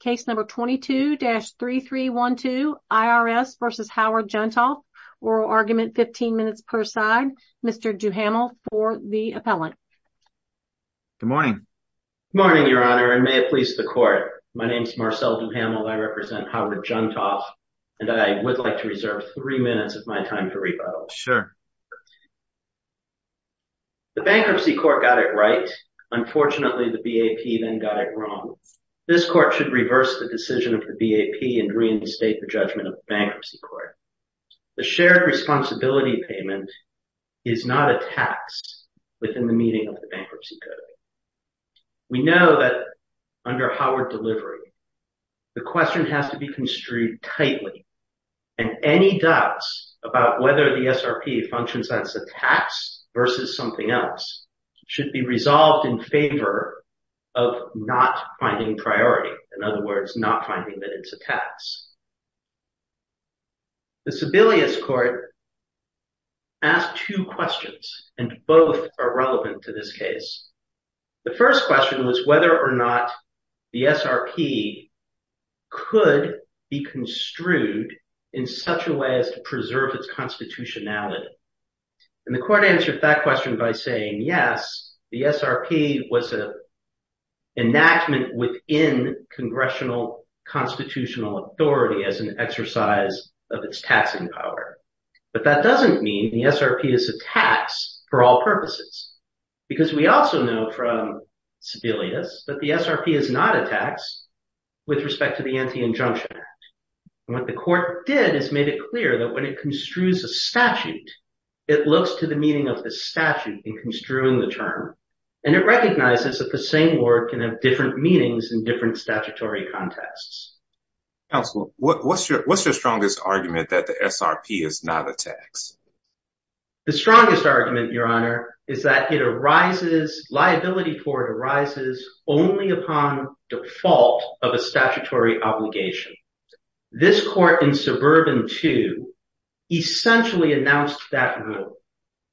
Case number 22-3312 IRS v. Howard Juntoff. Oral argument, 15 minutes per side. Mr. Duhamel for the appellant. Good morning. Good morning, Your Honor, and may it please the court. My name is Marcel Duhamel. I represent Howard Juntoff. And I would like to reserve three minutes of my time for rebuttal. Sure. The bankruptcy court got it right. Unfortunately, the BAP then got it wrong. This court should reverse the decision of the BAP and reinstate the judgment of the bankruptcy court. The shared responsibility payment is not a tax within the meaning of the bankruptcy code. We know that under Howard delivery, the question has to be construed tightly. And any doubts about whether the SRP functions as a tax versus something else should be resolved in favor of not finding priority. In other words, not finding that it's a tax. The Sebelius court asked two questions and both are relevant to this case. The first question was whether or not the SRP could be construed in such a way as to preserve its constitutionality. And the court answered that question by saying, yes, the SRP was an enactment within congressional constitutional authority as an exercise of its taxing power. But that doesn't mean the SRP is a tax for all purposes, because we also know from Sebelius that the SRP is not a tax with respect to the Anti-Injunction Act. What the court did is made it clear that when it construes a statute, it looks to the meaning of the statute in construing the term. And it recognizes that the same word can have different meanings in different statutory contexts. What's your what's your strongest argument that the SRP is not a tax? The strongest argument, Your Honor, is that it arises liability for it arises only upon default of a statutory obligation. This court in Suburban 2 essentially announced that rule.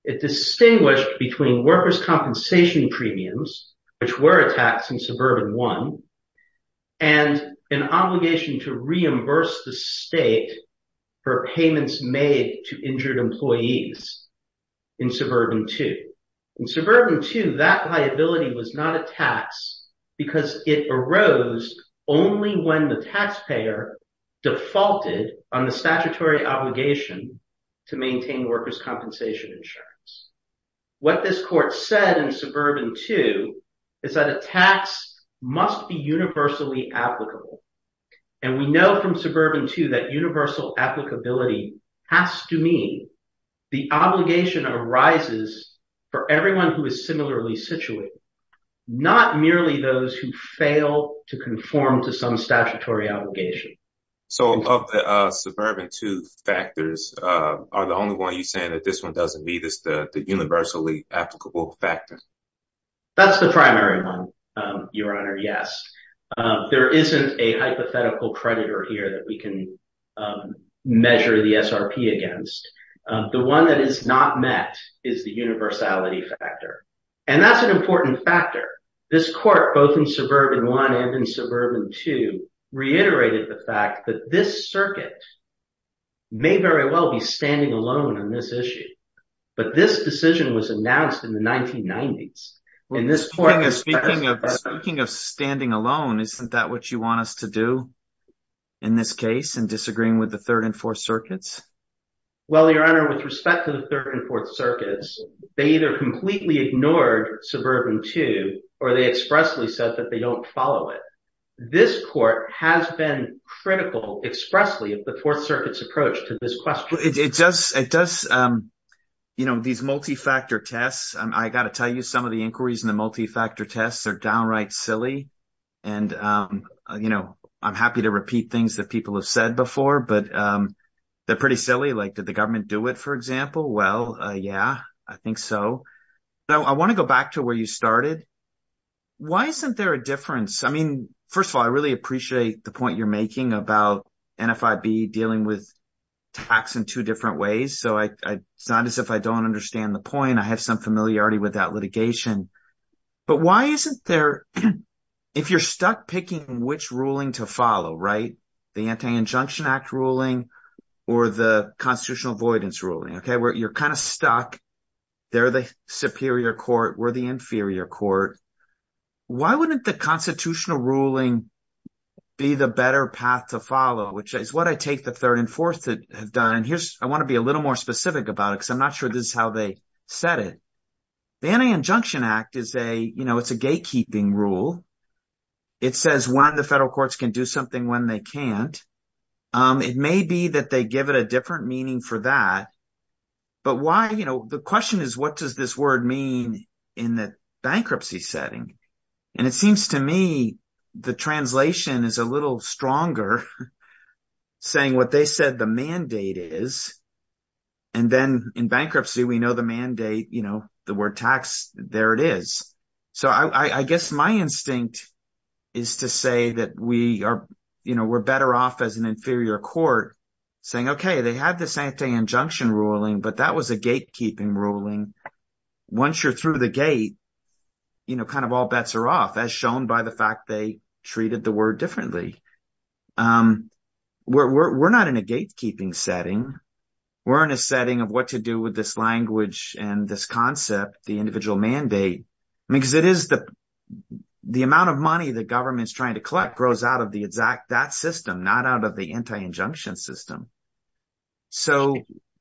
It distinguished between workers' compensation premiums, which were a tax in Suburban 1, and an obligation to reimburse the state for payments made to injured employees in Suburban 2. In Suburban 2, that liability was not a tax because it arose only when the taxpayer defaulted on the statutory obligation to maintain workers' compensation insurance. What this court said in Suburban 2 is that a tax must be universally applicable. And we know from Suburban 2 that universal applicability has to mean the obligation arises for everyone who is similarly situated, not merely those who fail to conform to some statutory obligation. So of the Suburban 2 factors, are the only one you're saying that this one doesn't meet is the universally applicable factor? That's the primary one, Your Honor. Yes, there isn't a hypothetical creditor here that we can measure the SRP against. The one that is not met is the universality factor. And that's an important factor. This court, both in Suburban 1 and in Suburban 2, reiterated the fact that this circuit may very well be standing alone on this issue. But this decision was announced in the 1990s. Speaking of standing alone, isn't that what you want us to do in this case in disagreeing with the Third and Fourth Circuits? Well, Your Honor, with respect to the Third and Fourth Circuits, they either completely ignored Suburban 2 or they expressly said that they don't follow it. This court has been critical expressly of the Fourth Circuit's approach to this question. So it does, you know, these multi-factor tests, I got to tell you, some of the inquiries in the multi-factor tests are downright silly. And, you know, I'm happy to repeat things that people have said before, but they're pretty silly. Like did the government do it, for example? Well, yeah, I think so. So I want to go back to where you started. Why isn't there a difference? I mean, first of all, I really appreciate the point you're making about NFIB dealing with tax in two different ways. So it's not as if I don't understand the point. I have some familiarity with that litigation. But why isn't there – if you're stuck picking which ruling to follow, right, the Anti-Injunction Act ruling or the constitutional avoidance ruling, okay, where you're kind of stuck. They're the superior court. We're the inferior court. Why wouldn't the constitutional ruling be the better path to follow, which is what I take the third and fourth to have done? And here's – I want to be a little more specific about it because I'm not sure this is how they set it. The Anti-Injunction Act is a – you know, it's a gatekeeping rule. It says when the federal courts can do something when they can't. It may be that they give it a different meaning for that. But why – the question is what does this word mean in the bankruptcy setting? And it seems to me the translation is a little stronger saying what they said the mandate is. And then in bankruptcy, we know the mandate, the word tax. There it is. So I guess my instinct is to say that we are – we're better off as an inferior court saying, okay, they had this anti-injunction ruling, but that was a gatekeeping ruling. Once you're through the gate, kind of all bets are off as shown by the fact they treated the word differently. We're not in a gatekeeping setting. We're in a setting of what to do with this language and this concept, the individual mandate, because it is the amount of money the government is trying to collect grows out of the exact – that system, not out of the anti-injunction system. So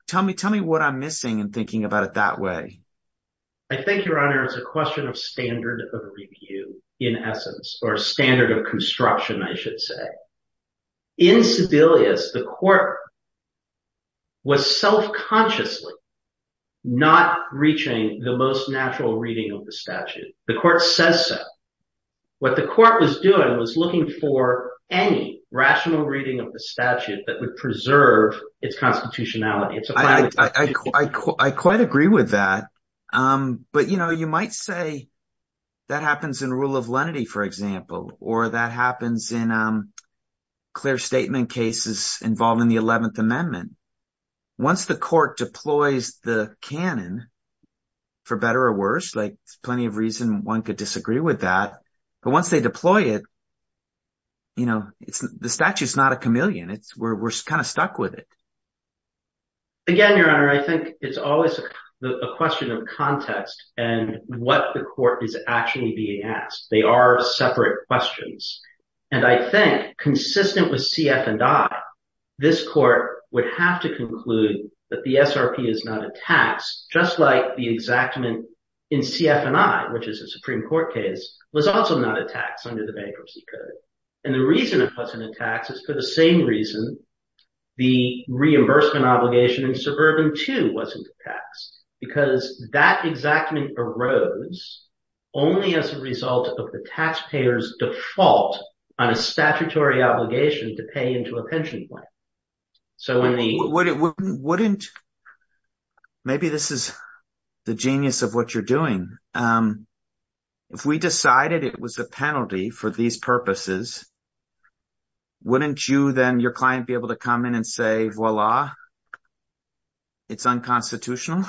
tell me what I'm missing in thinking about it that way. I think, Your Honor, it's a question of standard of review in essence or standard of construction, I should say. In Sebelius, the court was self-consciously not reaching the most natural reading of the statute. The court says so. What the court was doing was looking for any rational reading of the statute that would preserve its constitutionality. I quite agree with that. But you might say that happens in rule of lenity, for example, or that happens in clear statement cases involving the 11th Amendment. Once the court deploys the canon, for better or worse, there's plenty of reason one could disagree with that. But once they deploy it, the statute is not a chameleon. We're kind of stuck with it. Again, Your Honor, I think it's always a question of context and what the court is actually being asked. They are separate questions. And I think, consistent with CF and I, this court would have to conclude that the SRP is not a tax, just like the exactment in CF and I, which is a Supreme Court case, was also not a tax under the Bankruptcy Code. And the reason it wasn't a tax is for the same reason the reimbursement obligation in Suburban 2 wasn't taxed, because that exactment arose only as a result of the taxpayer's default on a statutory obligation to pay into a pension plan. Wouldn't – maybe this is the genius of what you're doing. If we decided it was a penalty for these purposes, wouldn't you then, your client, be able to come in and say, voila, it's unconstitutional?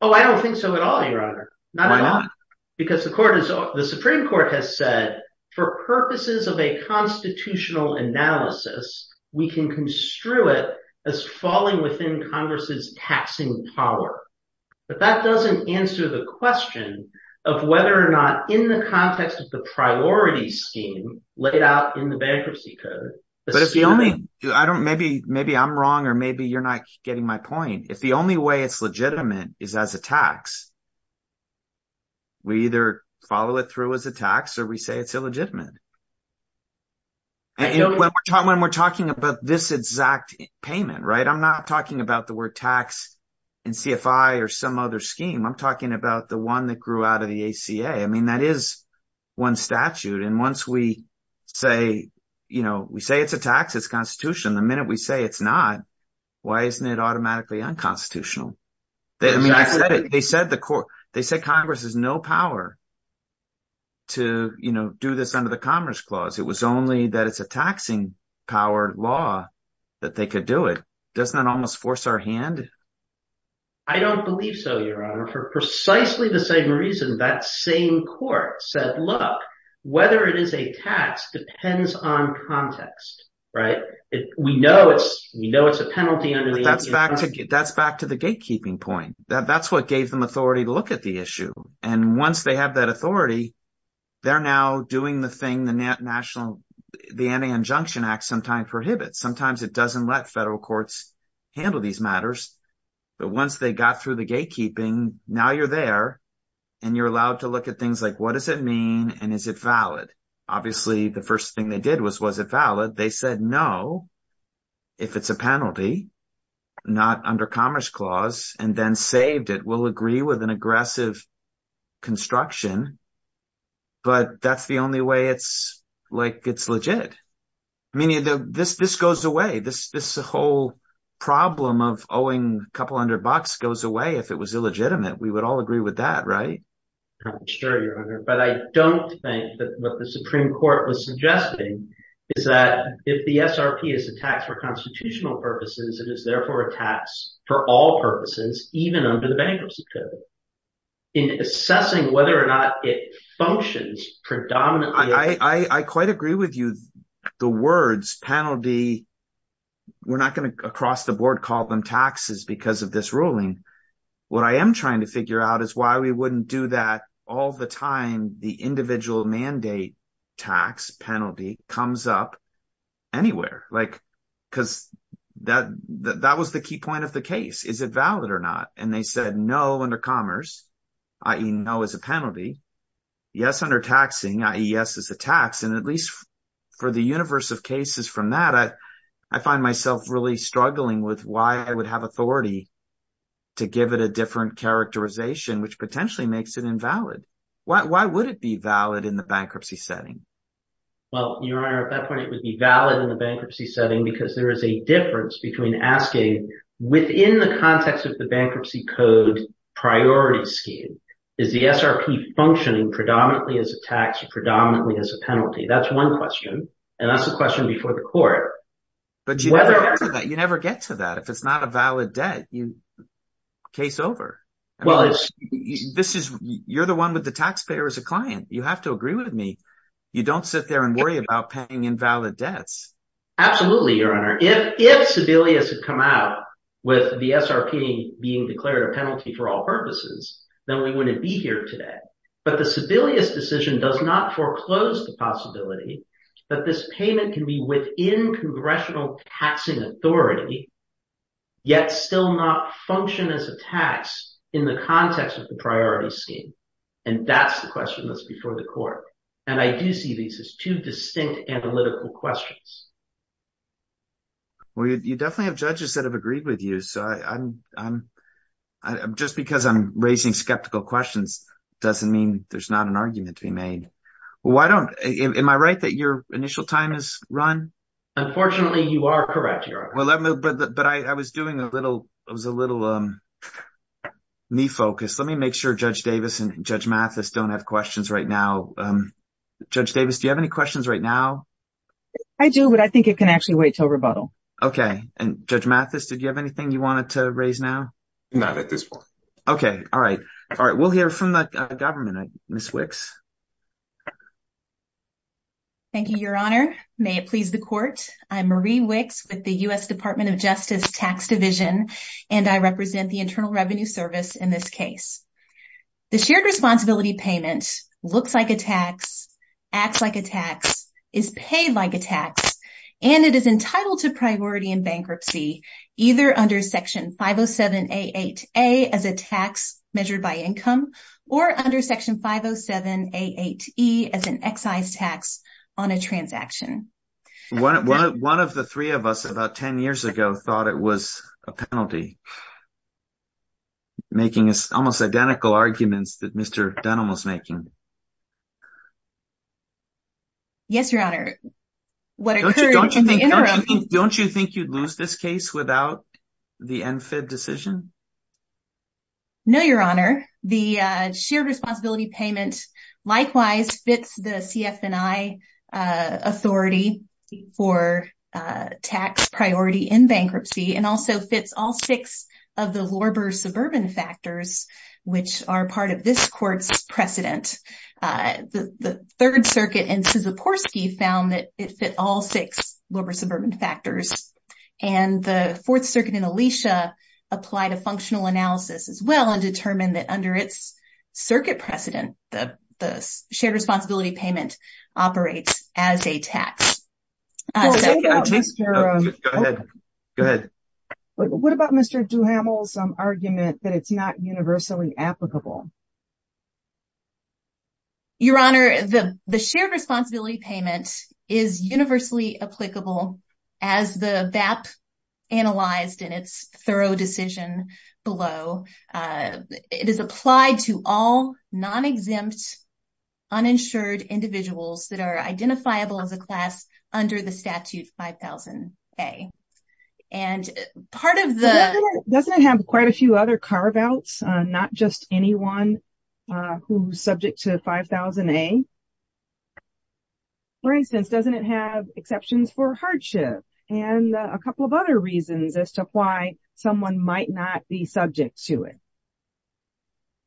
Oh, I don't think so at all, Your Honor. Not at all. Why not? Because the Supreme Court has said, for purposes of a constitutional analysis, we can construe it as falling within Congress's taxing power. But that doesn't answer the question of whether or not, in the context of the priority scheme laid out in the Bankruptcy Code… Maybe I'm wrong or maybe you're not getting my point. If the only way it's legitimate is as a tax, we either follow it through as a tax or we say it's illegitimate. When we're talking about this exact payment, I'm not talking about the word tax in CFI or some other scheme. I'm talking about the one that grew out of the ACA. I mean that is one statute, and once we say it's a tax, it's constitutional, the minute we say it's not, why isn't it automatically unconstitutional? They said Congress has no power to do this under the Commerce Clause. It was only that it's a taxing-powered law that they could do it. Doesn't that almost force our hand? I don't believe so, Your Honor, for precisely the same reason that same court said, look, whether it is a tax depends on context. We know it's a penalty under the ACA. That's what gave them authority to look at the issue, and once they have that authority, they're now doing the thing the Anti-Injunction Act sometimes prohibits. Sometimes it doesn't let federal courts handle these matters, but once they got through the gatekeeping, now you're there and you're allowed to look at things like what does it mean and is it valid? Obviously, the first thing they did was, was it valid? They said no, if it's a penalty, not under Commerce Clause, and then saved it. We'll agree with an aggressive construction, but that's the only way it's legit. This goes away. This whole problem of owing a couple hundred bucks goes away if it was illegitimate. We would all agree with that, right? Sure, Your Honor, but I don't think that what the Supreme Court was suggesting is that if the SRP is a tax for constitutional purposes, it is therefore a tax for all purposes, even under the Bankruptcy Code. In assessing whether or not it functions predominantly… I quite agree with you. The words penalty, we're not going to across the board call them taxes because of this ruling. What I am trying to figure out is why we wouldn't do that all the time. The individual mandate tax penalty comes up anywhere because that was the key point of the case. Is it valid or not? And they said no under Commerce, i.e. no as a penalty, yes under taxing, i.e. yes as a tax, and at least for the universe of cases from that, I find myself really struggling with why I would have authority to give it a different characterization, which potentially makes it invalid. Why would it be valid in the bankruptcy setting? Well, Your Honor, at that point, it would be valid in the bankruptcy setting because there is a difference between asking within the context of the Bankruptcy Code priority scheme. Is the SRP functioning predominantly as a tax or predominantly as a penalty? That's one question, and that's the question before the court. But you never get to that. If it's not a valid debt, case over. You're the one with the taxpayer as a client. You have to agree with me. You don't sit there and worry about paying invalid debts. Absolutely, Your Honor. If Sebelius had come out with the SRP being declared a penalty for all purposes, then we wouldn't be here today. But the Sebelius decision does not foreclose the possibility that this payment can be within congressional taxing authority, yet still not function as a tax in the context of the priority scheme. And that's the question that's before the court. And I do see these as two distinct analytical questions. Well, you definitely have judges that have agreed with you. So I'm just because I'm raising skeptical questions doesn't mean there's not an argument to be made. Why don't am I right that your initial time is run? Unfortunately, you are correct, Your Honor. But I was doing a little. It was a little me focus. Let me make sure Judge Davis and Judge Mathis don't have questions right now. Judge Davis, do you have any questions right now? I do, but I think it can actually wait till rebuttal. Okay. And Judge Mathis, did you have anything you wanted to raise now? Not at this point. Okay. All right. All right. We'll hear from the government. Ms. Wicks. Thank you, Your Honor. May it please the court. I'm Marie Wicks with the U.S. Department of Justice Tax Division, and I represent the Internal Revenue Service in this case. The shared responsibility payment looks like a tax, acts like a tax, is paid like a tax, and it is entitled to priority in bankruptcy either under Section 507A.8.A as a tax measured by income or under Section 507A.8.E as an excise tax on a transaction. One of the three of us about 10 years ago thought it was a penalty, making almost identical arguments that Mr. Dunham was making. Yes, Your Honor. Don't you think you'd lose this case without the NFIB decision? No, Your Honor. The shared responsibility payment likewise fits the CF&I authority for tax priority in bankruptcy and also fits all six of the Lorber suburban factors, which are part of this court's precedent. The Third Circuit in Sysoporsky found that it fit all six Lorber suburban factors, and the Fourth Circuit in Alesha applied a functional analysis as well and determined that under its circuit precedent, the shared responsibility payment operates as a tax. Go ahead. Go ahead. What about Mr. Dunham's argument that it's not universally applicable? Your Honor, the shared responsibility payment is universally applicable as the BAP analyzed in its thorough decision below. It is applied to all non-exempt, uninsured individuals that are identifiable as a class under the statute 5000A. Doesn't it have quite a few other carve outs, not just anyone who's subject to 5000A? For instance, doesn't it have exceptions for hardship and a couple of other reasons as to why someone might not be subject to it?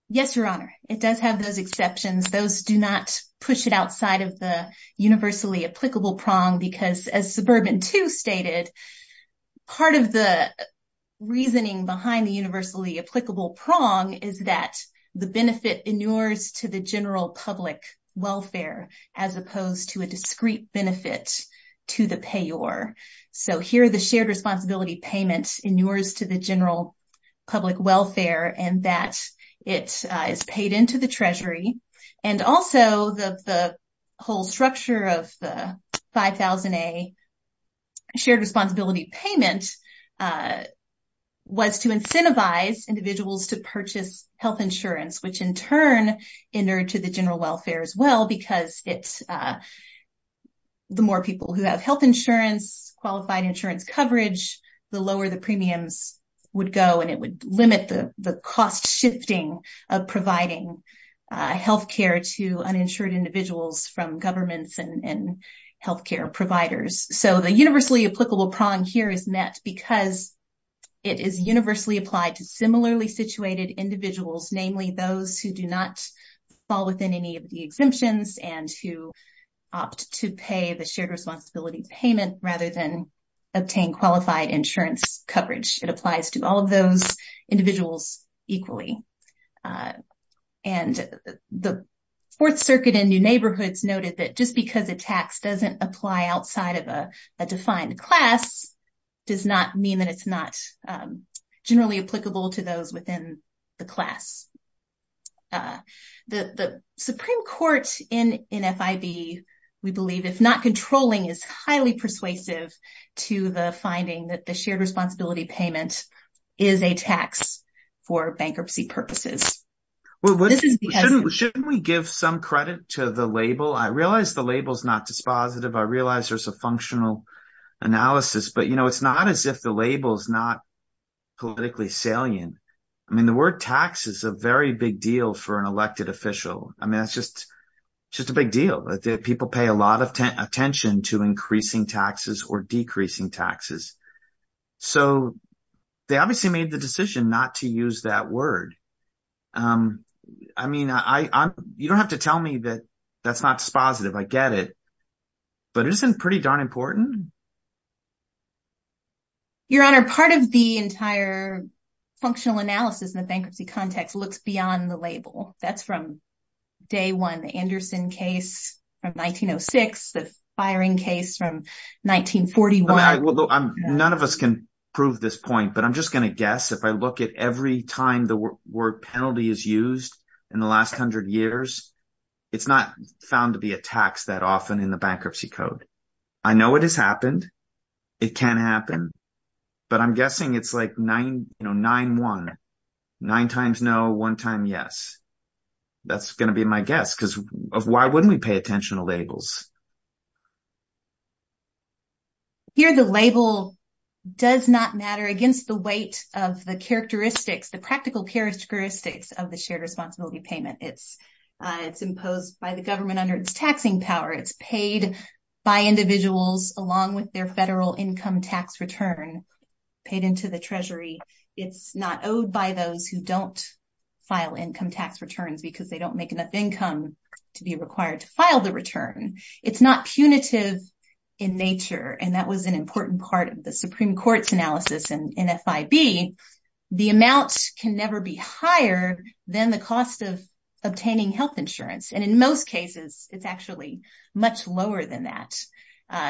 Yes, Your Honor. It does have those exceptions. Those do not push it outside of the universally applicable prong, because as Suburban 2 stated, part of the reasoning behind the universally applicable prong is that the benefit inures to the general public welfare as opposed to a discrete benefit to the payor. So here the shared responsibility payment inures to the general public welfare and that it is paid into the treasury. And also the whole structure of the 5000A shared responsibility payment was to incentivize individuals to purchase health insurance, which in turn inured to the general welfare as well, because the more people who have health insurance, qualified insurance coverage, the lower the premiums would go and it would limit the cost shifting of providing health care to uninsured individuals from governments and health care providers. So the universally applicable prong here is met because it is universally applied to similarly situated individuals, namely those who do not fall within any of the exemptions and who opt to pay the shared responsibility payment rather than obtain qualified insurance coverage. It applies to all of those individuals equally. And the Fourth Circuit in New Neighborhoods noted that just because a tax doesn't apply outside of a defined class does not mean that it's not generally applicable to those within the class. The Supreme Court in FIB, we believe, if not controlling, is highly persuasive to the finding that the shared responsibility payment is a tax for bankruptcy purposes. Shouldn't we give some credit to the label? I realize the label is not dispositive. I realize there's a functional analysis, but, you know, it's not as if the label is not politically salient. I mean, the word tax is a very big deal for an elected official. I mean, it's just a big deal that people pay a lot of attention to increasing taxes or decreasing taxes. So they obviously made the decision not to use that word. I mean, you don't have to tell me that that's not dispositive. I get it. But it isn't pretty darn important. Your Honor, part of the entire functional analysis in the bankruptcy context looks beyond the label. That's from day one, the Anderson case from 1906, the firing case from 1941. None of us can prove this point, but I'm just going to guess if I look at every time the word penalty is used in the last hundred years, it's not found to be a tax that often in the bankruptcy code. I know it has happened. It can happen. But I'm guessing it's like 9-1. Nine times no, one time yes. That's going to be my guess, because why wouldn't we pay attention to labels? I'm sure the label does not matter against the weight of the characteristics, the practical characteristics of the shared responsibility payment. It's imposed by the government under its taxing power. It's paid by individuals along with their federal income tax return paid into the Treasury. It's not owed by those who don't file income tax returns because they don't make enough income to be required to file the return. It's not punitive in nature. And that was an important part of the Supreme Court's analysis in FIB. The amount can never be higher than the cost of obtaining health insurance. And in most cases, it's actually much lower than that.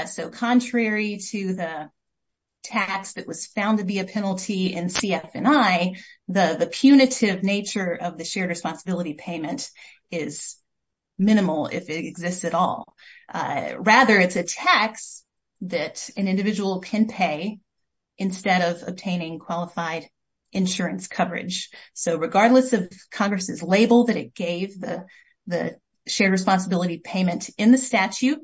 So contrary to the tax that was found to be a penalty in CF&I, the punitive nature of the shared responsibility payment is minimal if it exists at all. Rather, it's a tax that an individual can pay instead of obtaining qualified insurance coverage. So regardless of Congress's label that it gave the shared responsibility payment in the statute,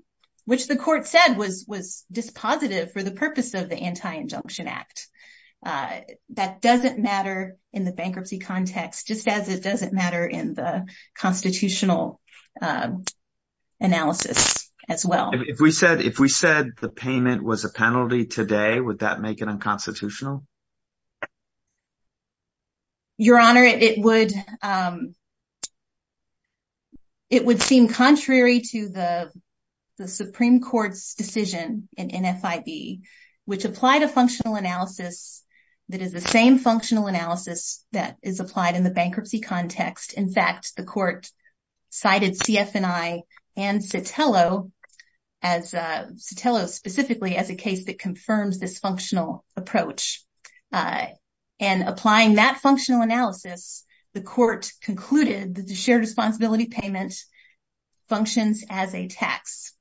which the court said was dispositive for the purpose of the Anti-Injunction Act, that doesn't matter in the bankruptcy context, just as it doesn't matter in the constitutional analysis as well. If we said the payment was a penalty today, would that make it unconstitutional? Your Honor, it would seem contrary to the Supreme Court's decision in FIB, which applied a functional analysis that is the same functional analysis that is applied in the bankruptcy context. In fact, the court cited CF&I and Sotelo specifically as a case that confirms this functional approach. And applying that functional analysis, the court concluded that the shared responsibility payment functions as a tax.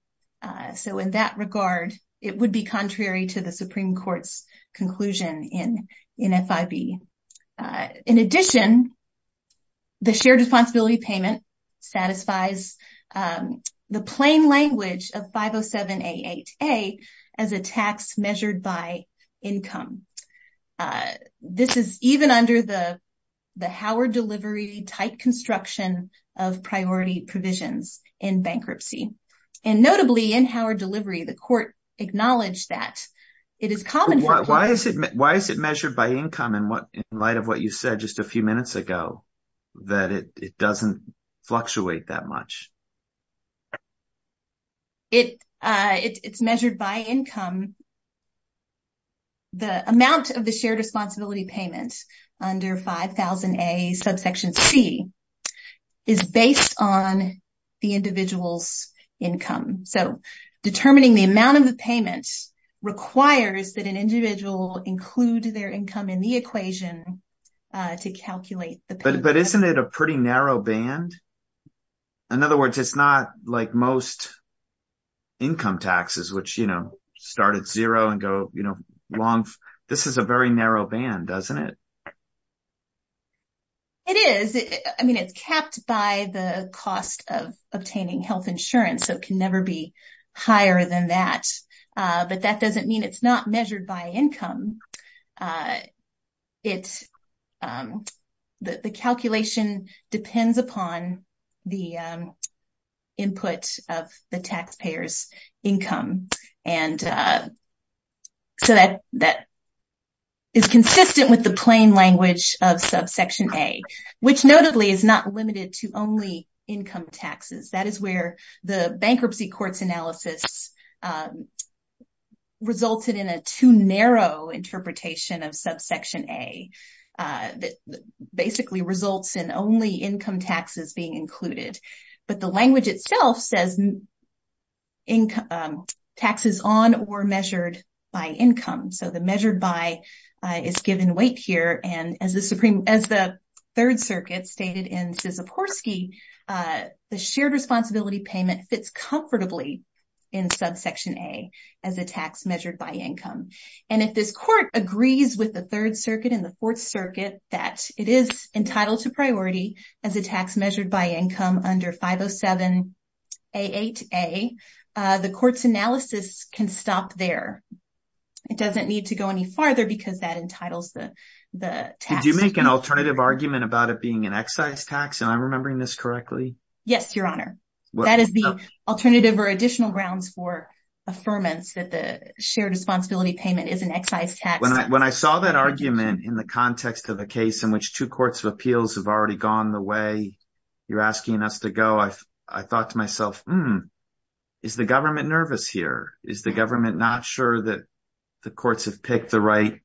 So in that regard, it would be contrary to the Supreme Court's conclusion in FIB. In addition, the shared responsibility payment satisfies the plain language of 507A8A as a tax measured by income. This is even under the Howard delivery type construction of priority provisions in bankruptcy. And notably in Howard delivery, the court acknowledged that it is common. Why is it measured by income in light of what you said just a few minutes ago, that it doesn't fluctuate that much? It's measured by income. The amount of the shared responsibility payment under 5000A subsection C is based on the individual's income. So determining the amount of the payment requires that an individual include their income in the equation to calculate. But isn't it a pretty narrow band? In other words, it's not like most income taxes, which started zero and go long. This is a very narrow band, doesn't it? It is. I mean, it's capped by the cost of obtaining health insurance, so it can never be higher than that. But that doesn't mean it's not measured by income. It's the calculation depends upon the input of the taxpayer's income. And so that that. Is consistent with the plain language of subsection A, which notably is not limited to only income taxes. That is where the bankruptcy courts analysis resulted in a too narrow interpretation of subsection A that basically results in only income taxes being included. But the language itself says. Income taxes on or measured by income, so the measured by is given weight here. And as the Supreme, as the Third Circuit stated in Sisiporsky, the shared responsibility payment fits comfortably in subsection A as a tax measured by income. And if this court agrees with the Third Circuit and the Fourth Circuit that it is entitled to priority as a tax measured by income under 507 A8A, the court's analysis can stop there. It doesn't need to go any farther because that entitles the tax. Did you make an alternative argument about it being an excise tax and I'm remembering this correctly? Yes, Your Honor. That is the alternative or additional grounds for affirmance that the shared responsibility payment is an excise tax. When I saw that argument in the context of a case in which two courts of appeals have already gone the way you're asking us to go. I thought to myself, hmm, is the government nervous here? Is the government not sure that the courts have picked the right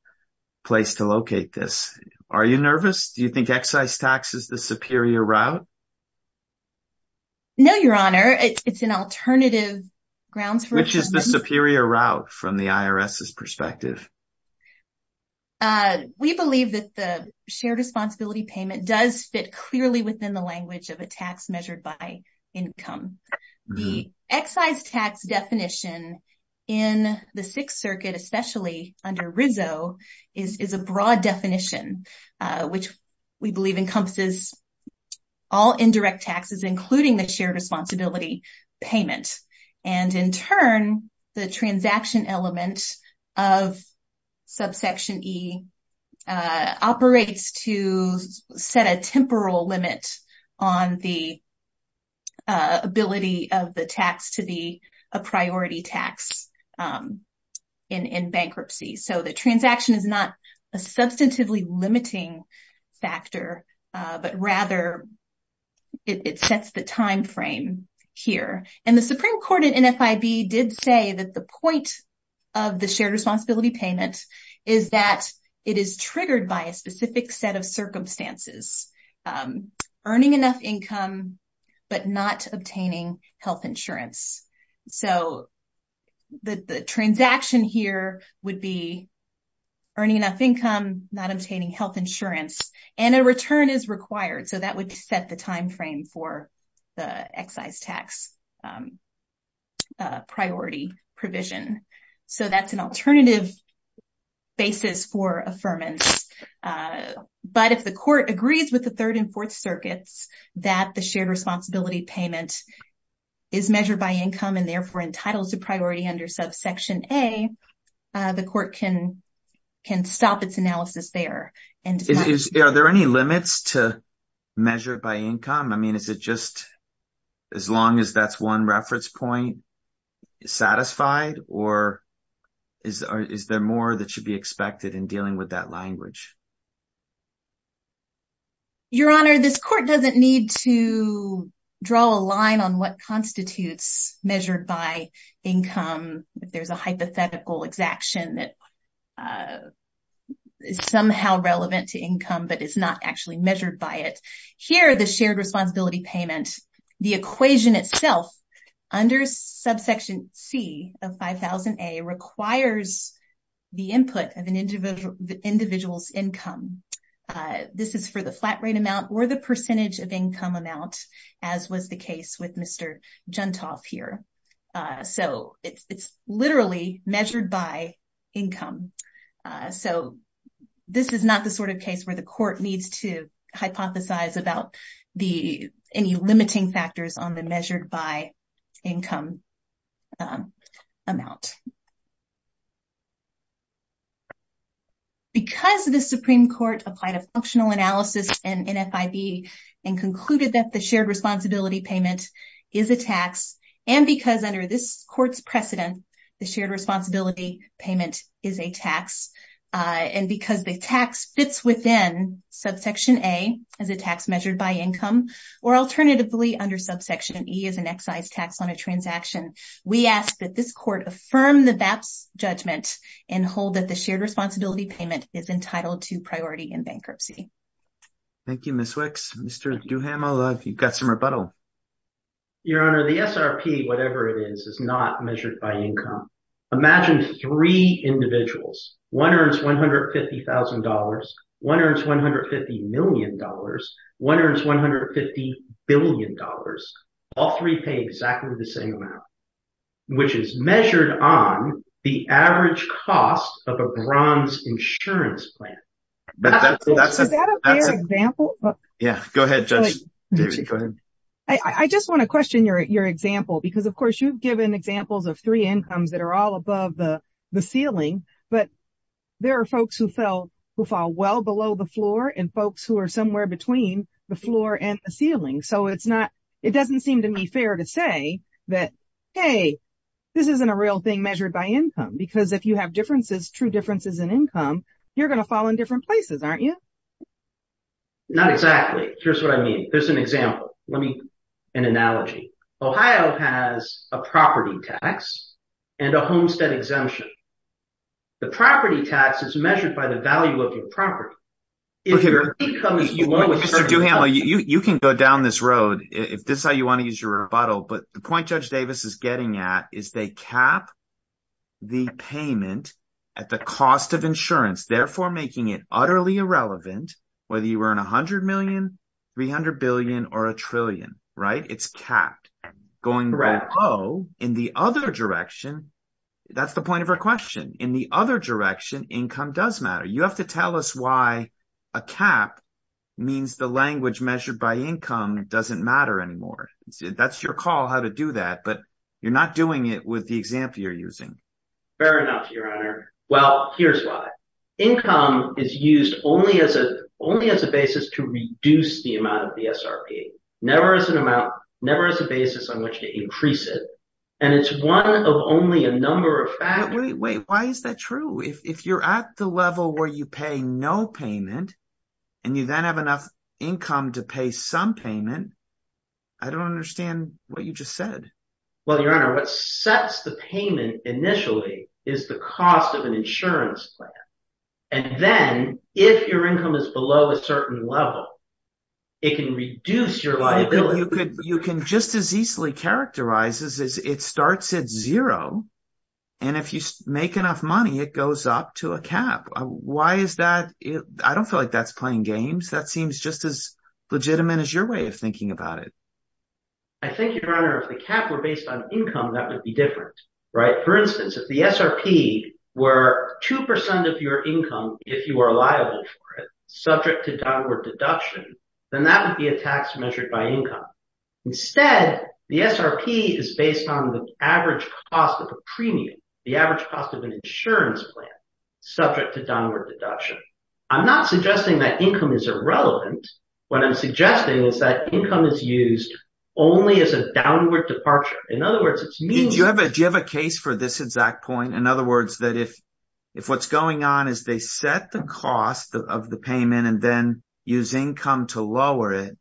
place to locate this? Are you nervous? Do you think excise tax is the superior route? No, Your Honor. It's an alternative grounds for affirmance. Which is the superior route from the IRS's perspective? We believe that the shared responsibility payment does fit clearly within the language of a tax measured by income. The excise tax definition in the Sixth Circuit, especially under Rizzo, is a broad definition, which we believe encompasses all indirect taxes, including the shared responsibility payment. And in turn, the transaction element of subsection E operates to set a temporal limit on the ability of the tax to be a priority tax in bankruptcy. So the transaction is not a substantively limiting factor, but rather it sets the timeframe here. And the Supreme Court in NFIB did say that the point of the shared responsibility payment is that it is triggered by a specific set of circumstances. Earning enough income, but not obtaining health insurance. So the transaction here would be earning enough income, not obtaining health insurance. And a return is required. So that would set the timeframe for the excise tax priority provision. So that's an alternative basis for affirmance. But if the court agrees with the Third and Fourth Circuits that the shared responsibility payment is measured by income and therefore entitled to priority under subsection A, the court can stop its analysis there. Are there any limits to measure by income? I mean, is it just as long as that's one reference point satisfied? Or is there more that should be expected in dealing with that language? Your Honor, this court doesn't need to draw a line on what constitutes measured by income. There's a hypothetical exaction that is somehow relevant to income, but it's not actually measured by it. Here, the shared responsibility payment, the equation itself under subsection C of 5000A requires the input of an individual's income. This is for the flat rate amount or the percentage of income amount, as was the case with Mr. Juntoff here. So it's literally measured by income. So this is not the sort of case where the court needs to hypothesize about the any limiting factors on the measured by income amount. Because the Supreme Court applied a functional analysis in NFIB and concluded that the shared responsibility payment is a tax, and because under this court's precedent, the shared responsibility payment is a tax, and because the tax fits within subsection A as a tax measured by income, or alternatively under subsection E as an excise tax on a transaction, we ask that this court affirm the VAPS judgment and hold that the shared responsibility payment is entitled to priority in bankruptcy. Thank you, Ms. Wicks. Mr. Duhamel, you've got some rebuttal. Your Honor, the SRP, whatever it is, is not measured by income. Imagine three individuals. One earns $150,000. One earns $150 million. One earns $150 billion. All three pay exactly the same amount, which is measured on the average cost of a bronze insurance plan. Is that a fair example? Yeah, go ahead, Judge. I just want to question your example, because, of course, you've given examples of three incomes that are all above the ceiling. But there are folks who fall well below the floor and folks who are somewhere between the floor and the ceiling. So it doesn't seem to me fair to say that, hey, this isn't a real thing measured by income, because if you have differences, true differences in income, you're going to fall in different places, aren't you? Not exactly. Here's what I mean. Here's an example. Let me make an analogy. Ohio has a property tax and a homestead exemption. The property tax is measured by the value of your property. Mr. Duhamel, you can go down this road if this is how you want to use your rebuttal. But the point Judge Davis is getting at is they cap the payment at the cost of insurance, therefore making it utterly irrelevant whether you earn $100 million, $300 billion, or $1 trillion. Right? It's capped. Going below in the other direction, that's the point of her question. In the other direction, income does matter. You have to tell us why a cap means the language measured by income doesn't matter anymore. That's your call how to do that, but you're not doing it with the example you're using. Fair enough, Your Honor. Well, here's why. Income is used only as a basis to reduce the amount of the SRP. Never as an amount, never as a basis on which to increase it. And it's one of only a number of factors. Wait, why is that true? If you're at the level where you pay no payment and you then have enough income to pay some payment, I don't understand what you just said. Well, Your Honor, what sets the payment initially is the cost of an insurance plan. And then if your income is below a certain level, it can reduce your liability. You can just as easily characterize this as it starts at zero, and if you make enough money, it goes up to a cap. Why is that? I don't feel like that's playing games. That seems just as legitimate as your way of thinking about it. I think, Your Honor, if the cap were based on income, that would be different. Right? For instance, if the SRP were 2% of your income, if you are liable for it, subject to downward deduction, then that would be a tax measured by income. Instead, the SRP is based on the average cost of a premium, the average cost of an insurance plan, subject to downward deduction. I'm not suggesting that income is irrelevant. What I'm suggesting is that income is used only as a downward departure. Do you have a case for this exact point? In other words, that if what's going on is they set the cost of the payment and then use income to lower it,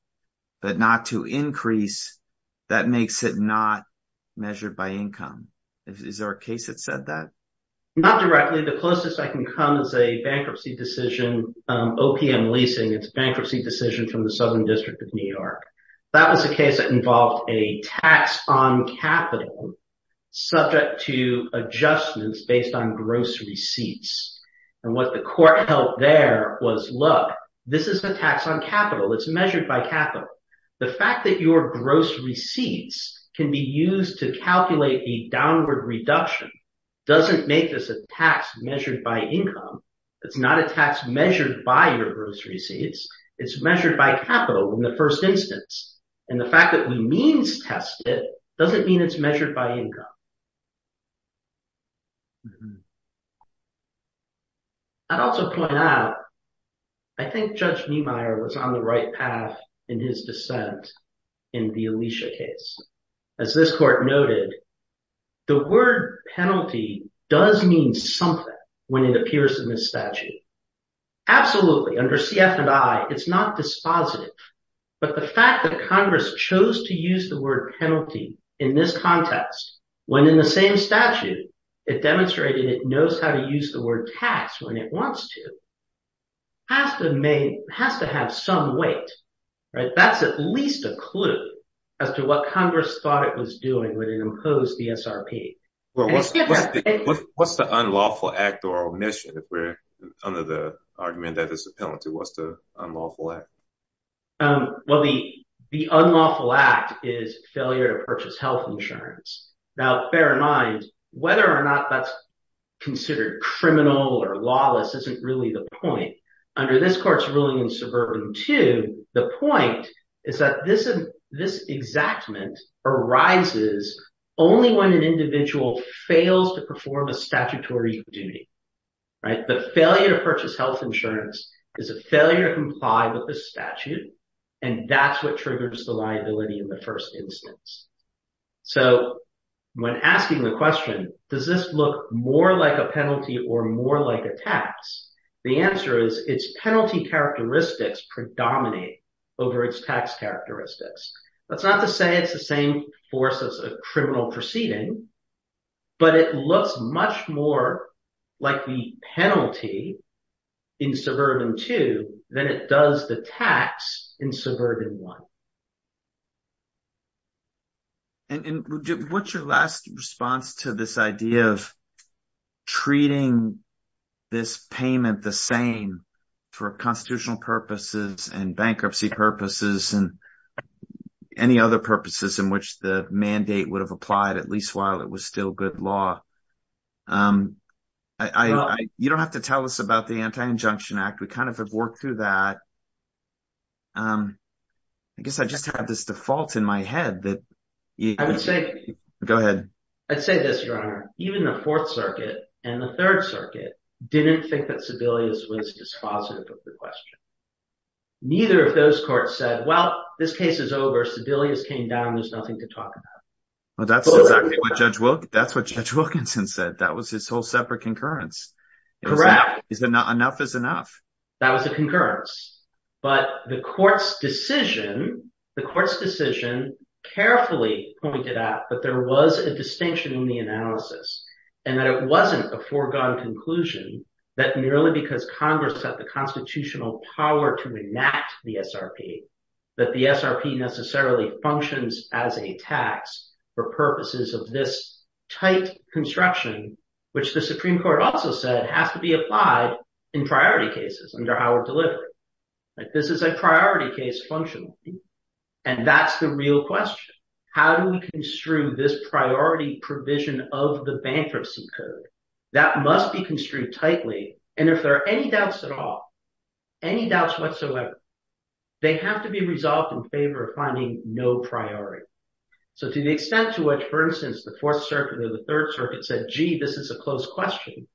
but not to increase, that makes it not measured by income. Is there a case that said that? Not directly. The closest I can come is a bankruptcy decision, OPM leasing. That was a case that involved a tax on capital subject to adjustments based on gross receipts. And what the court held there was, look, this is a tax on capital. It's measured by capital. The fact that your gross receipts can be used to calculate the downward reduction doesn't make this a tax measured by income. It's not a tax measured by your gross receipts. It's measured by capital in the first instance. And the fact that we means test it doesn't mean it's measured by income. I'd also point out, I think Judge Niemeyer was on the right path in his dissent in the Alicia case. As this court noted, the word penalty does mean something when it appears in the statute. Absolutely, under CF and I, it's not dispositive. But the fact that Congress chose to use the word penalty in this context, when in the same statute it demonstrated it knows how to use the word tax when it wants to, has to have some weight. That's at least a clue as to what Congress thought it was doing when it imposed the SRP. What's the unlawful act or omission if we're under the argument that it's a penalty? What's the unlawful act? Well, the unlawful act is failure to purchase health insurance. Now, bear in mind, whether or not that's considered criminal or lawless isn't really the point. Under this court's ruling in Suburban 2, the point is that this exactment arises only when an individual fails to perform a statutory duty. The failure to purchase health insurance is a failure to comply with the statute. And that's what triggers the liability in the first instance. So when asking the question, does this look more like a penalty or more like a tax? The answer is its penalty characteristics predominate over its tax characteristics. That's not to say it's the same force as a criminal proceeding, but it looks much more like the penalty in Suburban 2 than it does the tax in Suburban 1. And what's your last response to this idea of treating this payment the same for constitutional purposes and bankruptcy purposes and any other purposes in which the mandate would have applied, at least while it was still good law? You don't have to tell us about the Anti-Injunction Act. We kind of have worked through that. I guess I just have this default in my head that… I would say… Go ahead. I'd say this, Your Honor. Even the Fourth Circuit and the Third Circuit didn't think that Sebelius was dispositive of the question. Neither of those courts said, well, this case is over. Sebelius came down. There's nothing to talk about. Well, that's exactly what Judge Wilkinson said. That was his whole separate concurrence. Correct. Enough is enough. That was a concurrence. But the court's decision carefully pointed out that there was a distinction in the analysis and that it wasn't a foregone conclusion that merely because Congress had the constitutional power to enact the SRP that the SRP necessarily functions as a tax for purposes of this tight construction, which the Supreme Court also said has to be applied in priority cases. This is a priority case functionally, and that's the real question. How do we construe this priority provision of the bankruptcy code? That must be construed tightly. And if there are any doubts at all, any doubts whatsoever, they have to be resolved in favor of finding no priority. So to the extent to which, for instance, the Fourth Circuit or the Third Circuit said, gee, this is a close question,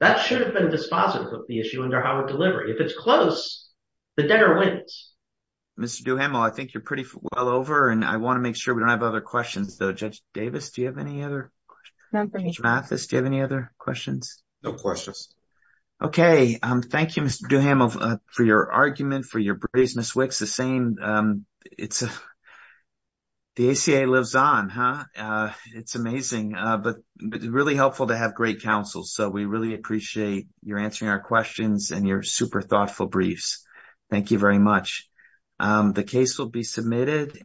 that should have been dispositive of the issue under Howard Delivery. If it's close, the debtor wins. Mr. Duhamel, I think you're pretty well over, and I want to make sure we don't have other questions, though. Judge Davis, do you have any other questions? None for me. Judge Mathis, do you have any other questions? No questions. Okay. Thank you, Mr. Duhamel, for your argument, for your briefs. Ms. Wicks, the ACA lives on, huh? It's amazing, but really helpful to have great counsel. So we really appreciate your answering our questions and your super thoughtful briefs. Thank you very much. The case will be submitted.